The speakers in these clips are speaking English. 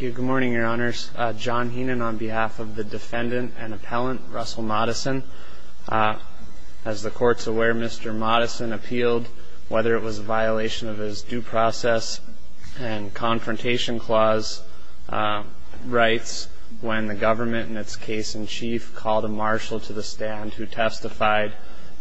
Good morning, your honors. John Heenan on behalf of the defendant and appellant, Russell Moddison. As the court's aware, Mr. Moddison appealed whether it was a violation of his due process and confrontation clause rights when the government, in its case in chief, called a marshal to the stand who testified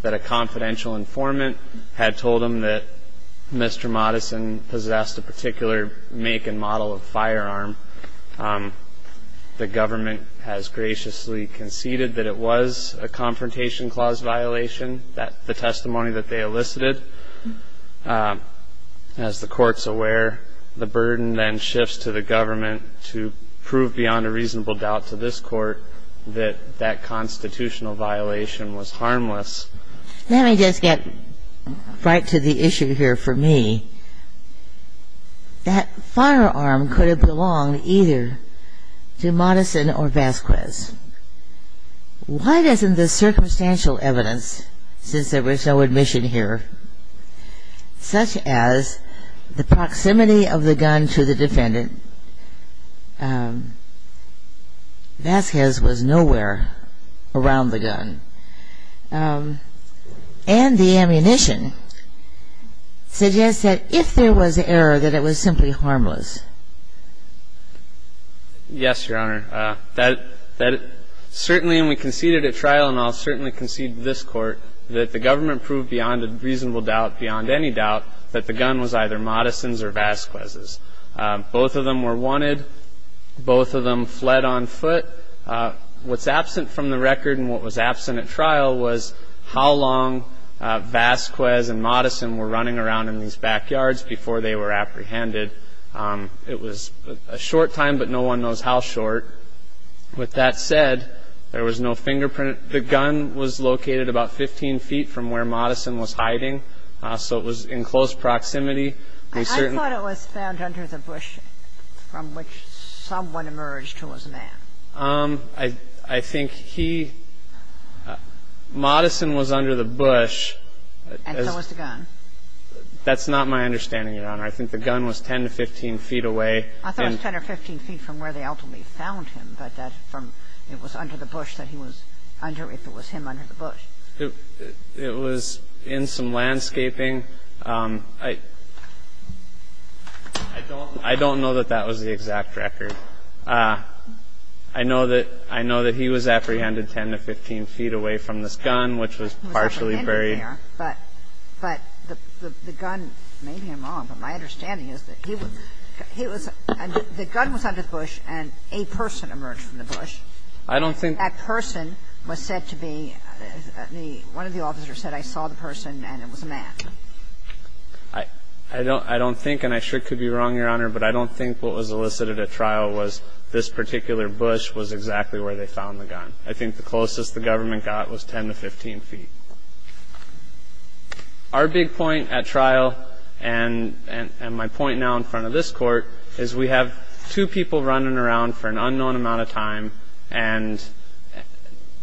that a confidential informant had told him that Mr. Moddison possessed a particular make and model of firearm. The government has graciously conceded that it was a confrontation clause violation, the testimony that they elicited. As the court's aware, the burden then shifts to the government to prove beyond a reasonable doubt to this court that that constitutional violation was harmless. Let me just get right to the issue here for me. That firearm could have belonged either to Moddison or Vasquez. Why doesn't the circumstantial evidence, since there was no admission here, such as the proximity of the gun to the defendant Vasquez was nowhere around the gun. And the ammunition suggests that if there was error, that it was simply harmless. Yes, Your Honor. That certainly when we conceded at trial, and I'll certainly concede to this Court, that the government proved beyond a reasonable doubt, beyond any doubt, that the gun was either Moddison's or Vasquez's. Both of them were wanted. Both of them fled on foot. What's absent from the record and what was absent at trial was how long Vasquez and Moddison were running around in these backyards before they were apprehended. It was a short time, but no one knows how short. With that said, there was no fingerprint. The gun was located about 15 feet from where Moddison was hiding, so it was in close proximity. I thought it was found under the bush from which someone emerged who was a man. I think he – Moddison was under the bush. And so was the gun. That's not my understanding, Your Honor. I think the gun was 10 to 15 feet away. I thought it was 10 or 15 feet from where they ultimately found him, but that from – it was under the bush that he was under, if it was him under the bush. It was in some landscaping. I don't know that that was the exact record. I know that he was apprehended 10 to 15 feet away from this gun, which was partially very – He was apprehended there, but the gun made him wrong. But my understanding is that he was – the gun was under the bush and a person emerged from the bush. I don't think – One of the officers said, I saw the person and it was a man. I don't think, and I sure could be wrong, Your Honor, but I don't think what was elicited at trial was this particular bush was exactly where they found the gun. I think the closest the government got was 10 to 15 feet. Our big point at trial and my point now in front of this Court is we have two people running around for an unknown amount of time, and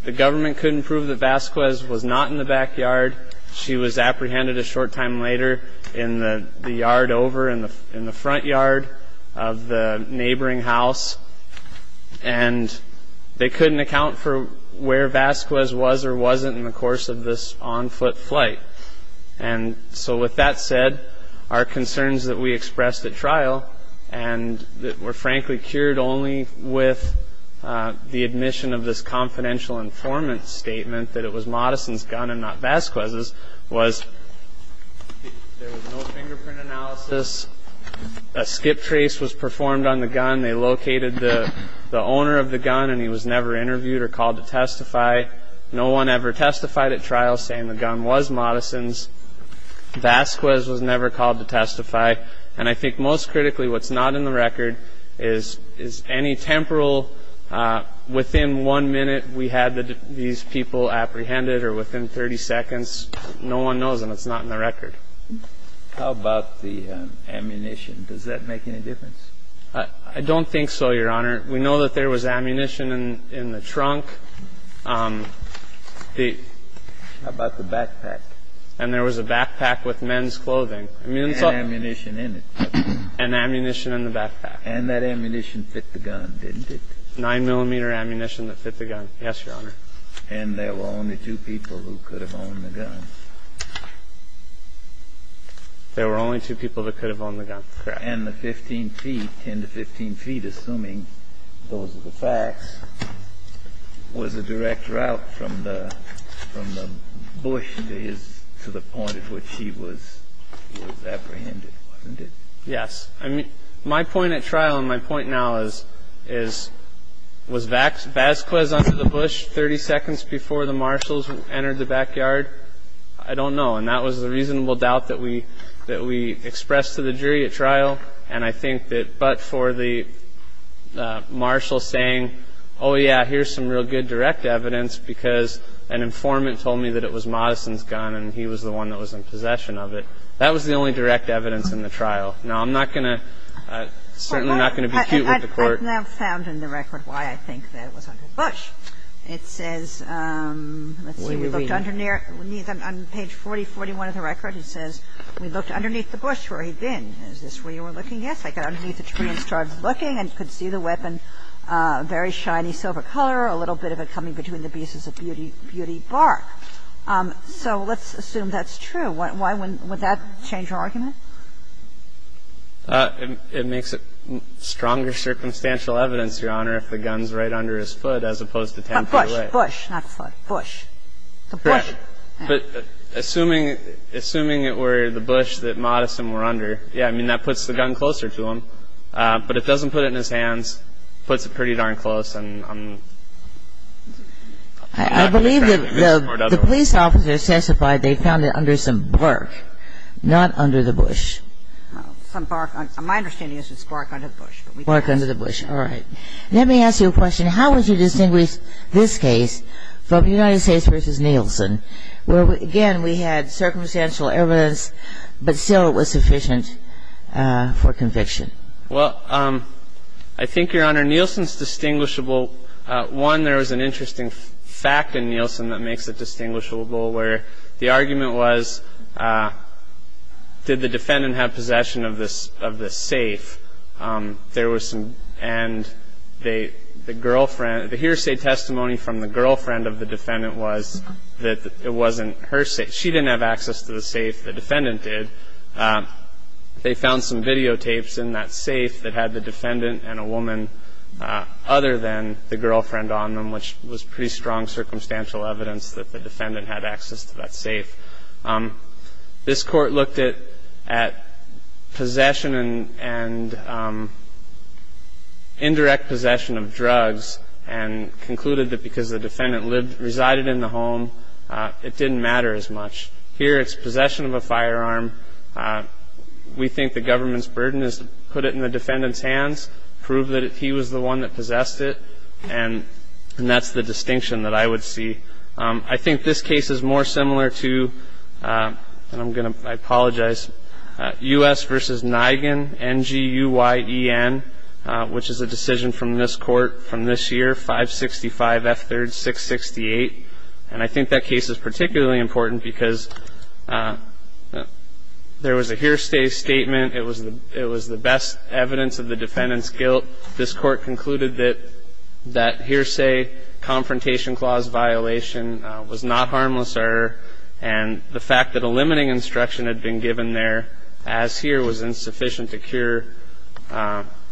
the government couldn't prove that Vasquez was not in the backyard. She was apprehended a short time later in the yard over in the front yard of the neighboring house, and they couldn't account for where Vasquez was or wasn't in the course of this on-foot flight. And so with that said, our concerns that we expressed at trial, and that were frankly cured only with the admission of this confidential informant statement that it was Modison's gun and not Vasquez's, was there was no fingerprint analysis. A skip trace was performed on the gun. They located the owner of the gun, and he was never interviewed or called to testify. No one ever testified at trial saying the gun was Modison's. Vasquez was never called to testify. And I think most critically what's not in the record is any temporal within one minute we had these people apprehended or within 30 seconds. No one knows, and it's not in the record. How about the ammunition? Does that make any difference? I don't think so, Your Honor. We know that there was ammunition in the trunk. How about the backpack? And there was a backpack with men's clothing. And ammunition in it. And ammunition in the backpack. And that ammunition fit the gun, didn't it? Nine-millimeter ammunition that fit the gun, yes, Your Honor. And there were only two people who could have owned the gun. There were only two people that could have owned the gun, correct. And the 15 feet, 10 to 15 feet, assuming those are the facts, was a direct route from the bush to the point at which he was apprehended, wasn't it? Yes. My point at trial and my point now is, was Vasquez under the bush 30 seconds before the marshals entered the backyard? I don't know. And that was the reasonable doubt that we expressed to the jury at trial. And I think that but for the marshal saying, oh, yeah, here's some real good direct evidence because an informant told me that it was Modison's gun and he was the one that was in possession of it, that was the only direct evidence in the trial. Now, I'm not going to – certainly not going to be cute with the Court. I've now found in the record why I think that it was under the bush. It says, let's see, we looked underneath on page 4041 of the record. It says, we looked underneath the bush where he'd been. Is this where you were looking? Yes. I got underneath the tree and started looking and could see the weapon, very shiny silver color, a little bit of it coming between the pieces of beauty bark. So let's assume that's true. Why would that change your argument? It makes it stronger circumstantial evidence, Your Honor, if the gun's right under his foot as opposed to 10 feet away. Bush, not foot. Bush. Correct. But assuming it were the bush that Modison were under, yeah, I mean, that puts the gun closer to him. But it doesn't put it in his hands. It puts it pretty darn close. I believe that the police officers testified they found it under some bark, not under the bush. Some bark. My understanding is it's bark under the bush. Bark under the bush. All right. Let me ask you a question. How would you distinguish this case from United States v. Nielsen, where, again, we had circumstantial evidence, but still it was sufficient for conviction? Well, I think, Your Honor, Nielsen's distinguishable. One, there was an interesting fact in Nielsen that makes it distinguishable, where the argument was did the defendant have possession of this safe? There was some. And the hearsay testimony from the girlfriend of the defendant was that it wasn't her safe. She didn't have access to the safe. The defendant did. They found some videotapes in that safe that had the defendant and a woman other than the girlfriend on them, which was pretty strong circumstantial evidence that the defendant had access to that safe. This court looked at possession and indirect possession of drugs and concluded that because the defendant resided in the home, it didn't matter as much. Here it's possession of a firearm. We think the government's burden is to put it in the defendant's hands, prove that he was the one that possessed it, and that's the distinction that I would see. I think this case is more similar to, and I'm going to apologize, U.S. v. Nigen, N-G-U-Y-E-N, which is a decision from this court from this year, 565 F. 3rd, 668. And I think that case is particularly important because there was a hearsay statement. It was the best evidence of the defendant's guilt. This court concluded that that hearsay confrontation clause violation was not harmless and the fact that a limiting instruction had been given there as here was insufficient to cure the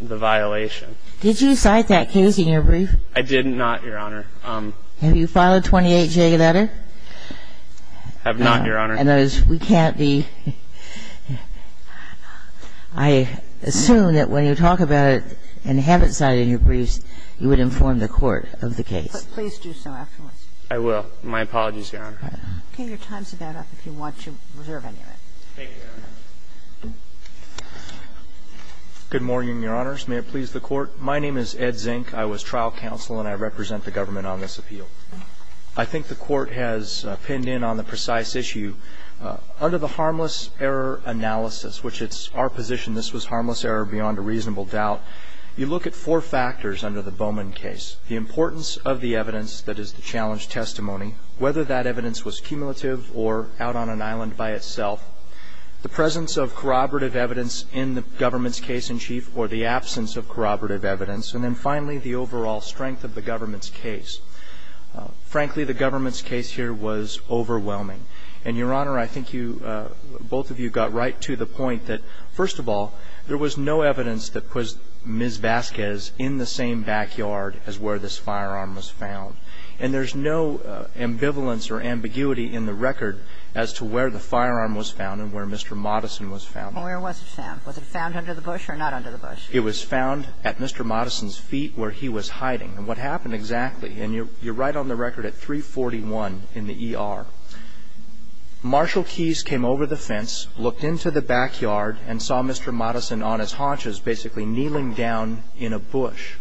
violation. Did you cite that case in your brief? I did not, Your Honor. Have you filed a 28-J letter? I have not, Your Honor. And that is, we can't be – I assume that when you talk about it and haven't cited it in your briefs, you would inform the court of the case. Please do so afterwards. I will. My apologies, Your Honor. Okay. Your time's about up if you want to reserve any of it. Thank you, Your Honor. Good morning, Your Honors. May it please the Court. My name is Ed Zink. I was trial counsel and I represent the government on this appeal. I think the Court has pinned in on the precise issue. Under the harmless error analysis, which it's our position this was harmless error beyond a reasonable doubt, you look at four factors under the Bowman case, the importance of the evidence that is the challenge testimony, whether that evidence was cumulative or out on an island by itself, the presence of corroborative evidence in the government's case-in-chief or the absence of corroborative evidence, and then finally, the overall strength of the government's case. Frankly, the government's case here was overwhelming. And, Your Honor, I think you both of you got right to the point that, first of all, there was no evidence that put Ms. Vasquez in the same backyard as where this firearm was found. And there's no ambivalence or ambiguity in the record as to where the firearm was found and where Mr. Modison was found. Well, where was it found? Was it found under the bush or not under the bush? It was found at Mr. Modison's feet where he was hiding. And what happened exactly, and you're right on the record at 341 in the ER, Marshall Keyes came over the fence, looked into the backyard, and saw Mr. Modison on his haunches basically kneeling down in a bush.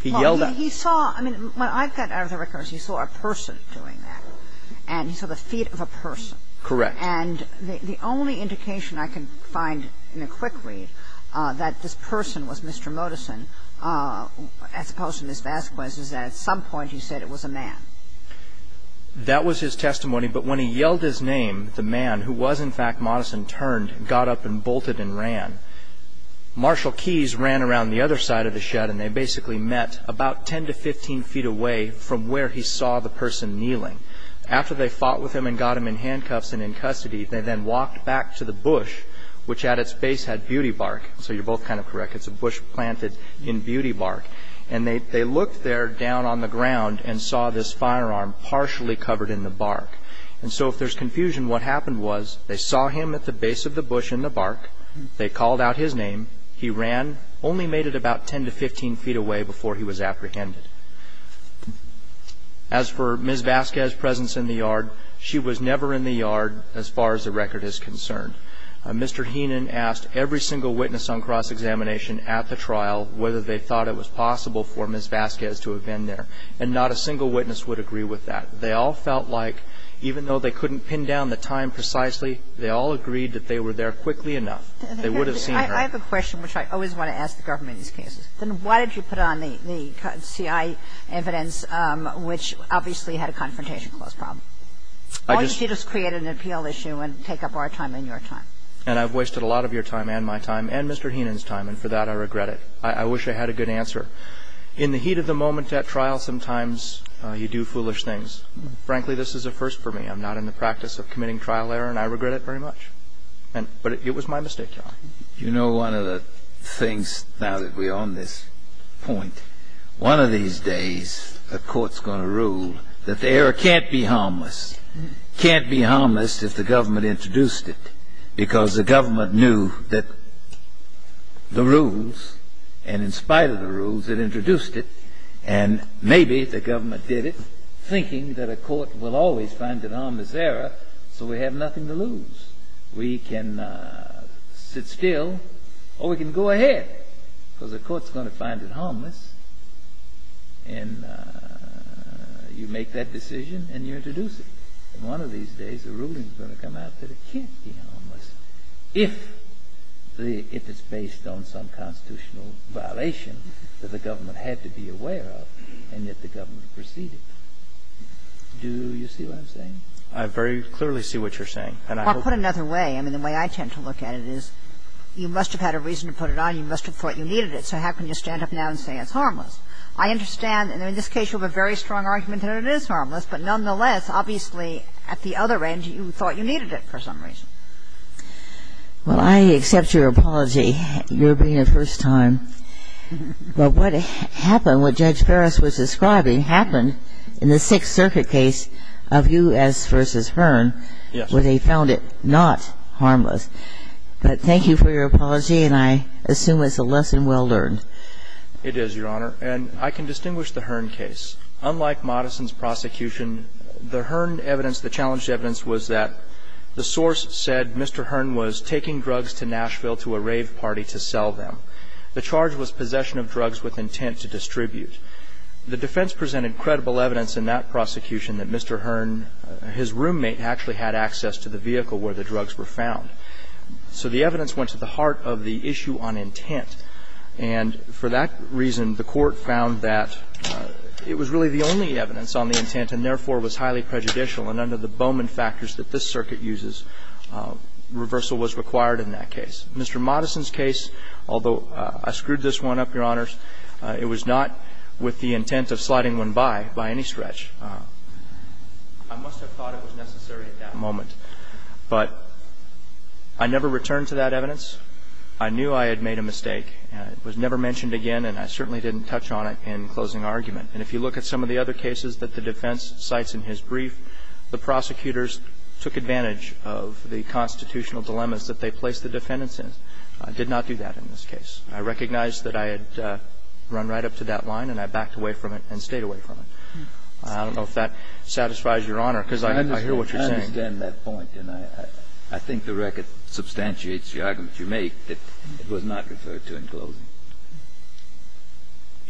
He yelled out. Well, he saw – I mean, what I've got out of the record is he saw a person doing that, and he saw the feet of a person. Correct. And the only indication I can find in a quick read that this person was Mr. Modison, as opposed to Ms. Vasquez, is that at some point he said it was a man. That was his testimony. But when he yelled his name, the man, who was in fact Modison, turned, got up and bolted and ran. Marshall Keyes ran around the other side of the shed, and they basically met about 10 to 15 feet away from where he saw the person kneeling. After they fought with him and got him in handcuffs and in custody, they then walked back to the bush, which at its base had beauty bark. So you're both kind of correct. It's a bush planted in beauty bark. And they looked there down on the ground and saw this firearm partially covered in the bark. And so if there's confusion, what happened was they saw him at the base of the bush in the bark. They called out his name. He ran, only made it about 10 to 15 feet away before he was apprehended. As for Ms. Vasquez's presence in the yard, she was never in the yard as far as the record is concerned. Mr. Heenan asked every single witness on cross-examination at the trial whether they thought it was possible for Ms. Vasquez to have been there. And not a single witness would agree with that. They all felt like, even though they couldn't pin down the time precisely, they all agreed that they were there quickly enough. They would have seen her. I have a question, which I always want to ask the government in these cases. Then why did you put on the CI evidence, which obviously had a confrontation clause problem? Or did you just create an appeal issue and take up our time and your time? And I've wasted a lot of your time and my time and Mr. Heenan's time, and for that I regret it. I wish I had a good answer. In the heat of the moment at trial, sometimes you do foolish things. Frankly, this is a first for me. I'm not in the practice of committing trial error, and I regret it very much. But it was my mistake, Your Honor. You know, one of the things, now that we're on this point, one of these days a court's going to rule that the error can't be harmless. Can't be harmless if the government introduced it, because the government knew that the rules, and in spite of the rules, it introduced it. And maybe the government did it thinking that a court will always find an harmless error, so we have nothing to lose. We can sit still or we can go ahead, because the court's going to find it harmless and you make that decision and you introduce it. And one of these days a ruling is going to come out that it can't be harmless if the – if it's based on some constitutional violation that the government had to be aware of and yet the government proceeded. Do you see what I'm saying? I very clearly see what you're saying. Well, put another way. I mean, the way I tend to look at it is you must have had a reason to put it on. You must have thought you needed it, so how can you stand up now and say it's harmless? I understand, and in this case you have a very strong argument that it is harmless, but nonetheless, obviously, at the other end, you thought you needed it for some reason. Well, I accept your apology. You're being a first time. But what happened, what Judge Ferris was describing, happened in the Sixth Circuit case of Hughes v. Hearn, where they found it not harmless. But thank you for your apology, and I assume it's a lesson well learned. It is, Your Honor. And I can distinguish the Hearn case. Unlike Modison's prosecution, the Hearn evidence, the challenged evidence, was that the source said Mr. Hearn was taking drugs to Nashville to a rave party to sell them. The charge was possession of drugs with intent to distribute. The defense presented credible evidence in that prosecution that Mr. Hearn, his roommate, actually had access to the vehicle where the drugs were found. So the evidence went to the heart of the issue on intent. And for that reason, the Court found that it was really the only evidence on the intent and, therefore, was highly prejudicial. And under the Bowman factors that this Circuit uses, reversal was required in that case. Mr. Modison's case, although I screwed this one up, Your Honors, it was not a case with the intent of sliding one by, by any stretch. I must have thought it was necessary at that moment. But I never returned to that evidence. I knew I had made a mistake, and it was never mentioned again, and I certainly didn't touch on it in closing argument. And if you look at some of the other cases that the defense cites in his brief, the prosecutors took advantage of the constitutional dilemmas that they placed the defendants in. I did not do that in this case. I recognize that I had run right up to that line and I backed away from it and stayed away from it. I don't know if that satisfies Your Honor, because I hear what you're saying. I understand that point. And I think the record substantiates the argument you make that it was not referred to in closing.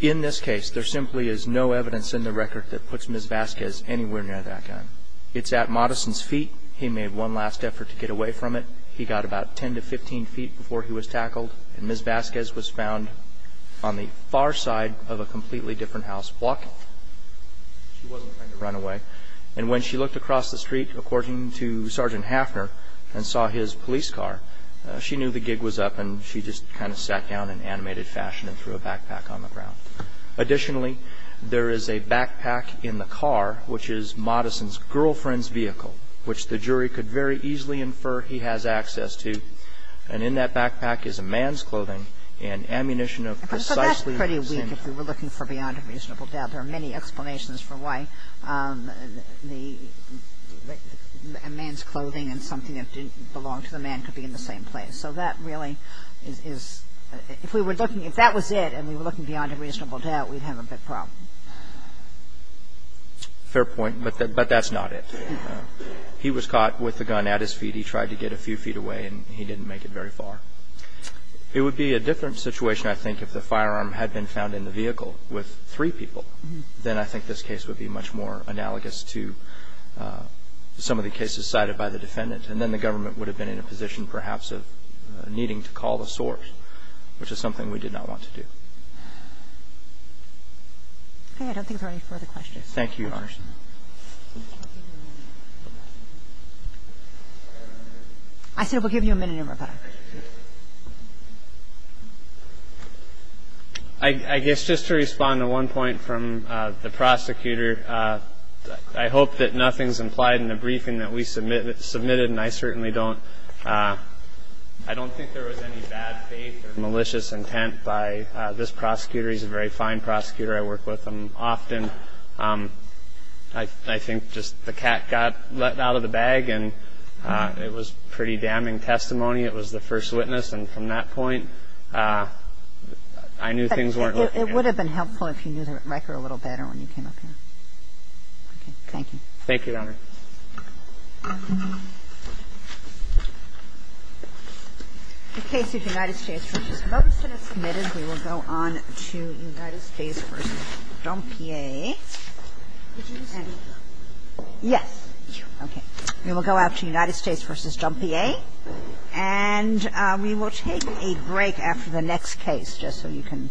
In this case, there simply is no evidence in the record that puts Ms. Vasquez anywhere near that gun. It's at Modison's feet. He made one last effort to get away from it. He got about 10 to 15 feet before he was tackled. And Ms. Vasquez was found on the far side of a completely different house, walking. She wasn't trying to run away. And when she looked across the street, according to Sergeant Hafner, and saw his police car, she knew the gig was up and she just kind of sat down in animated fashion and threw a backpack on the ground. Additionally, there is a backpack in the car, which is Modison's girlfriend's vehicle, which the jury could very easily infer he has access to. And in that backpack is a man's clothing and ammunition of precisely the same So that's pretty weak if we were looking for beyond a reasonable doubt. There are many explanations for why a man's clothing and something that didn't belong to the man could be in the same place. So that really is – if we were looking – if that was it and we were looking beyond a reasonable doubt, we'd have a big problem. Fair point. But that's not it. He was caught with the gun at his feet. He tried to get a few feet away and he didn't make it very far. It would be a different situation, I think, if the firearm had been found in the vehicle with three people. Then I think this case would be much more analogous to some of the cases cited by the defendant. And then the government would have been in a position, perhaps, of needing to call the source, which is something we did not want to do. I don't think there are any further questions. Thank you, Your Honor. I said we'll give you a minute, Your Honor. I guess just to respond to one point from the prosecutor, I hope that nothing's implied in the briefing that we submitted, and I certainly don't – I don't think there was any bad faith or malicious intent by this prosecutor. He's a very fine prosecutor. I work with him often. I think just the cat got let out of the bag. And it was pretty damning testimony. It was the first witness. And from that point, I knew things weren't looking good. But it would have been helpful if you knew the record a little better when you came up here. Okay. Thank you. Thank you, Your Honor. The case of United States v. Ferguson is submitted. We will go on to United States v. Dompier. Yes. Okay. We will go out to United States v. Dompier. And we will take a break after the next case, just so you can –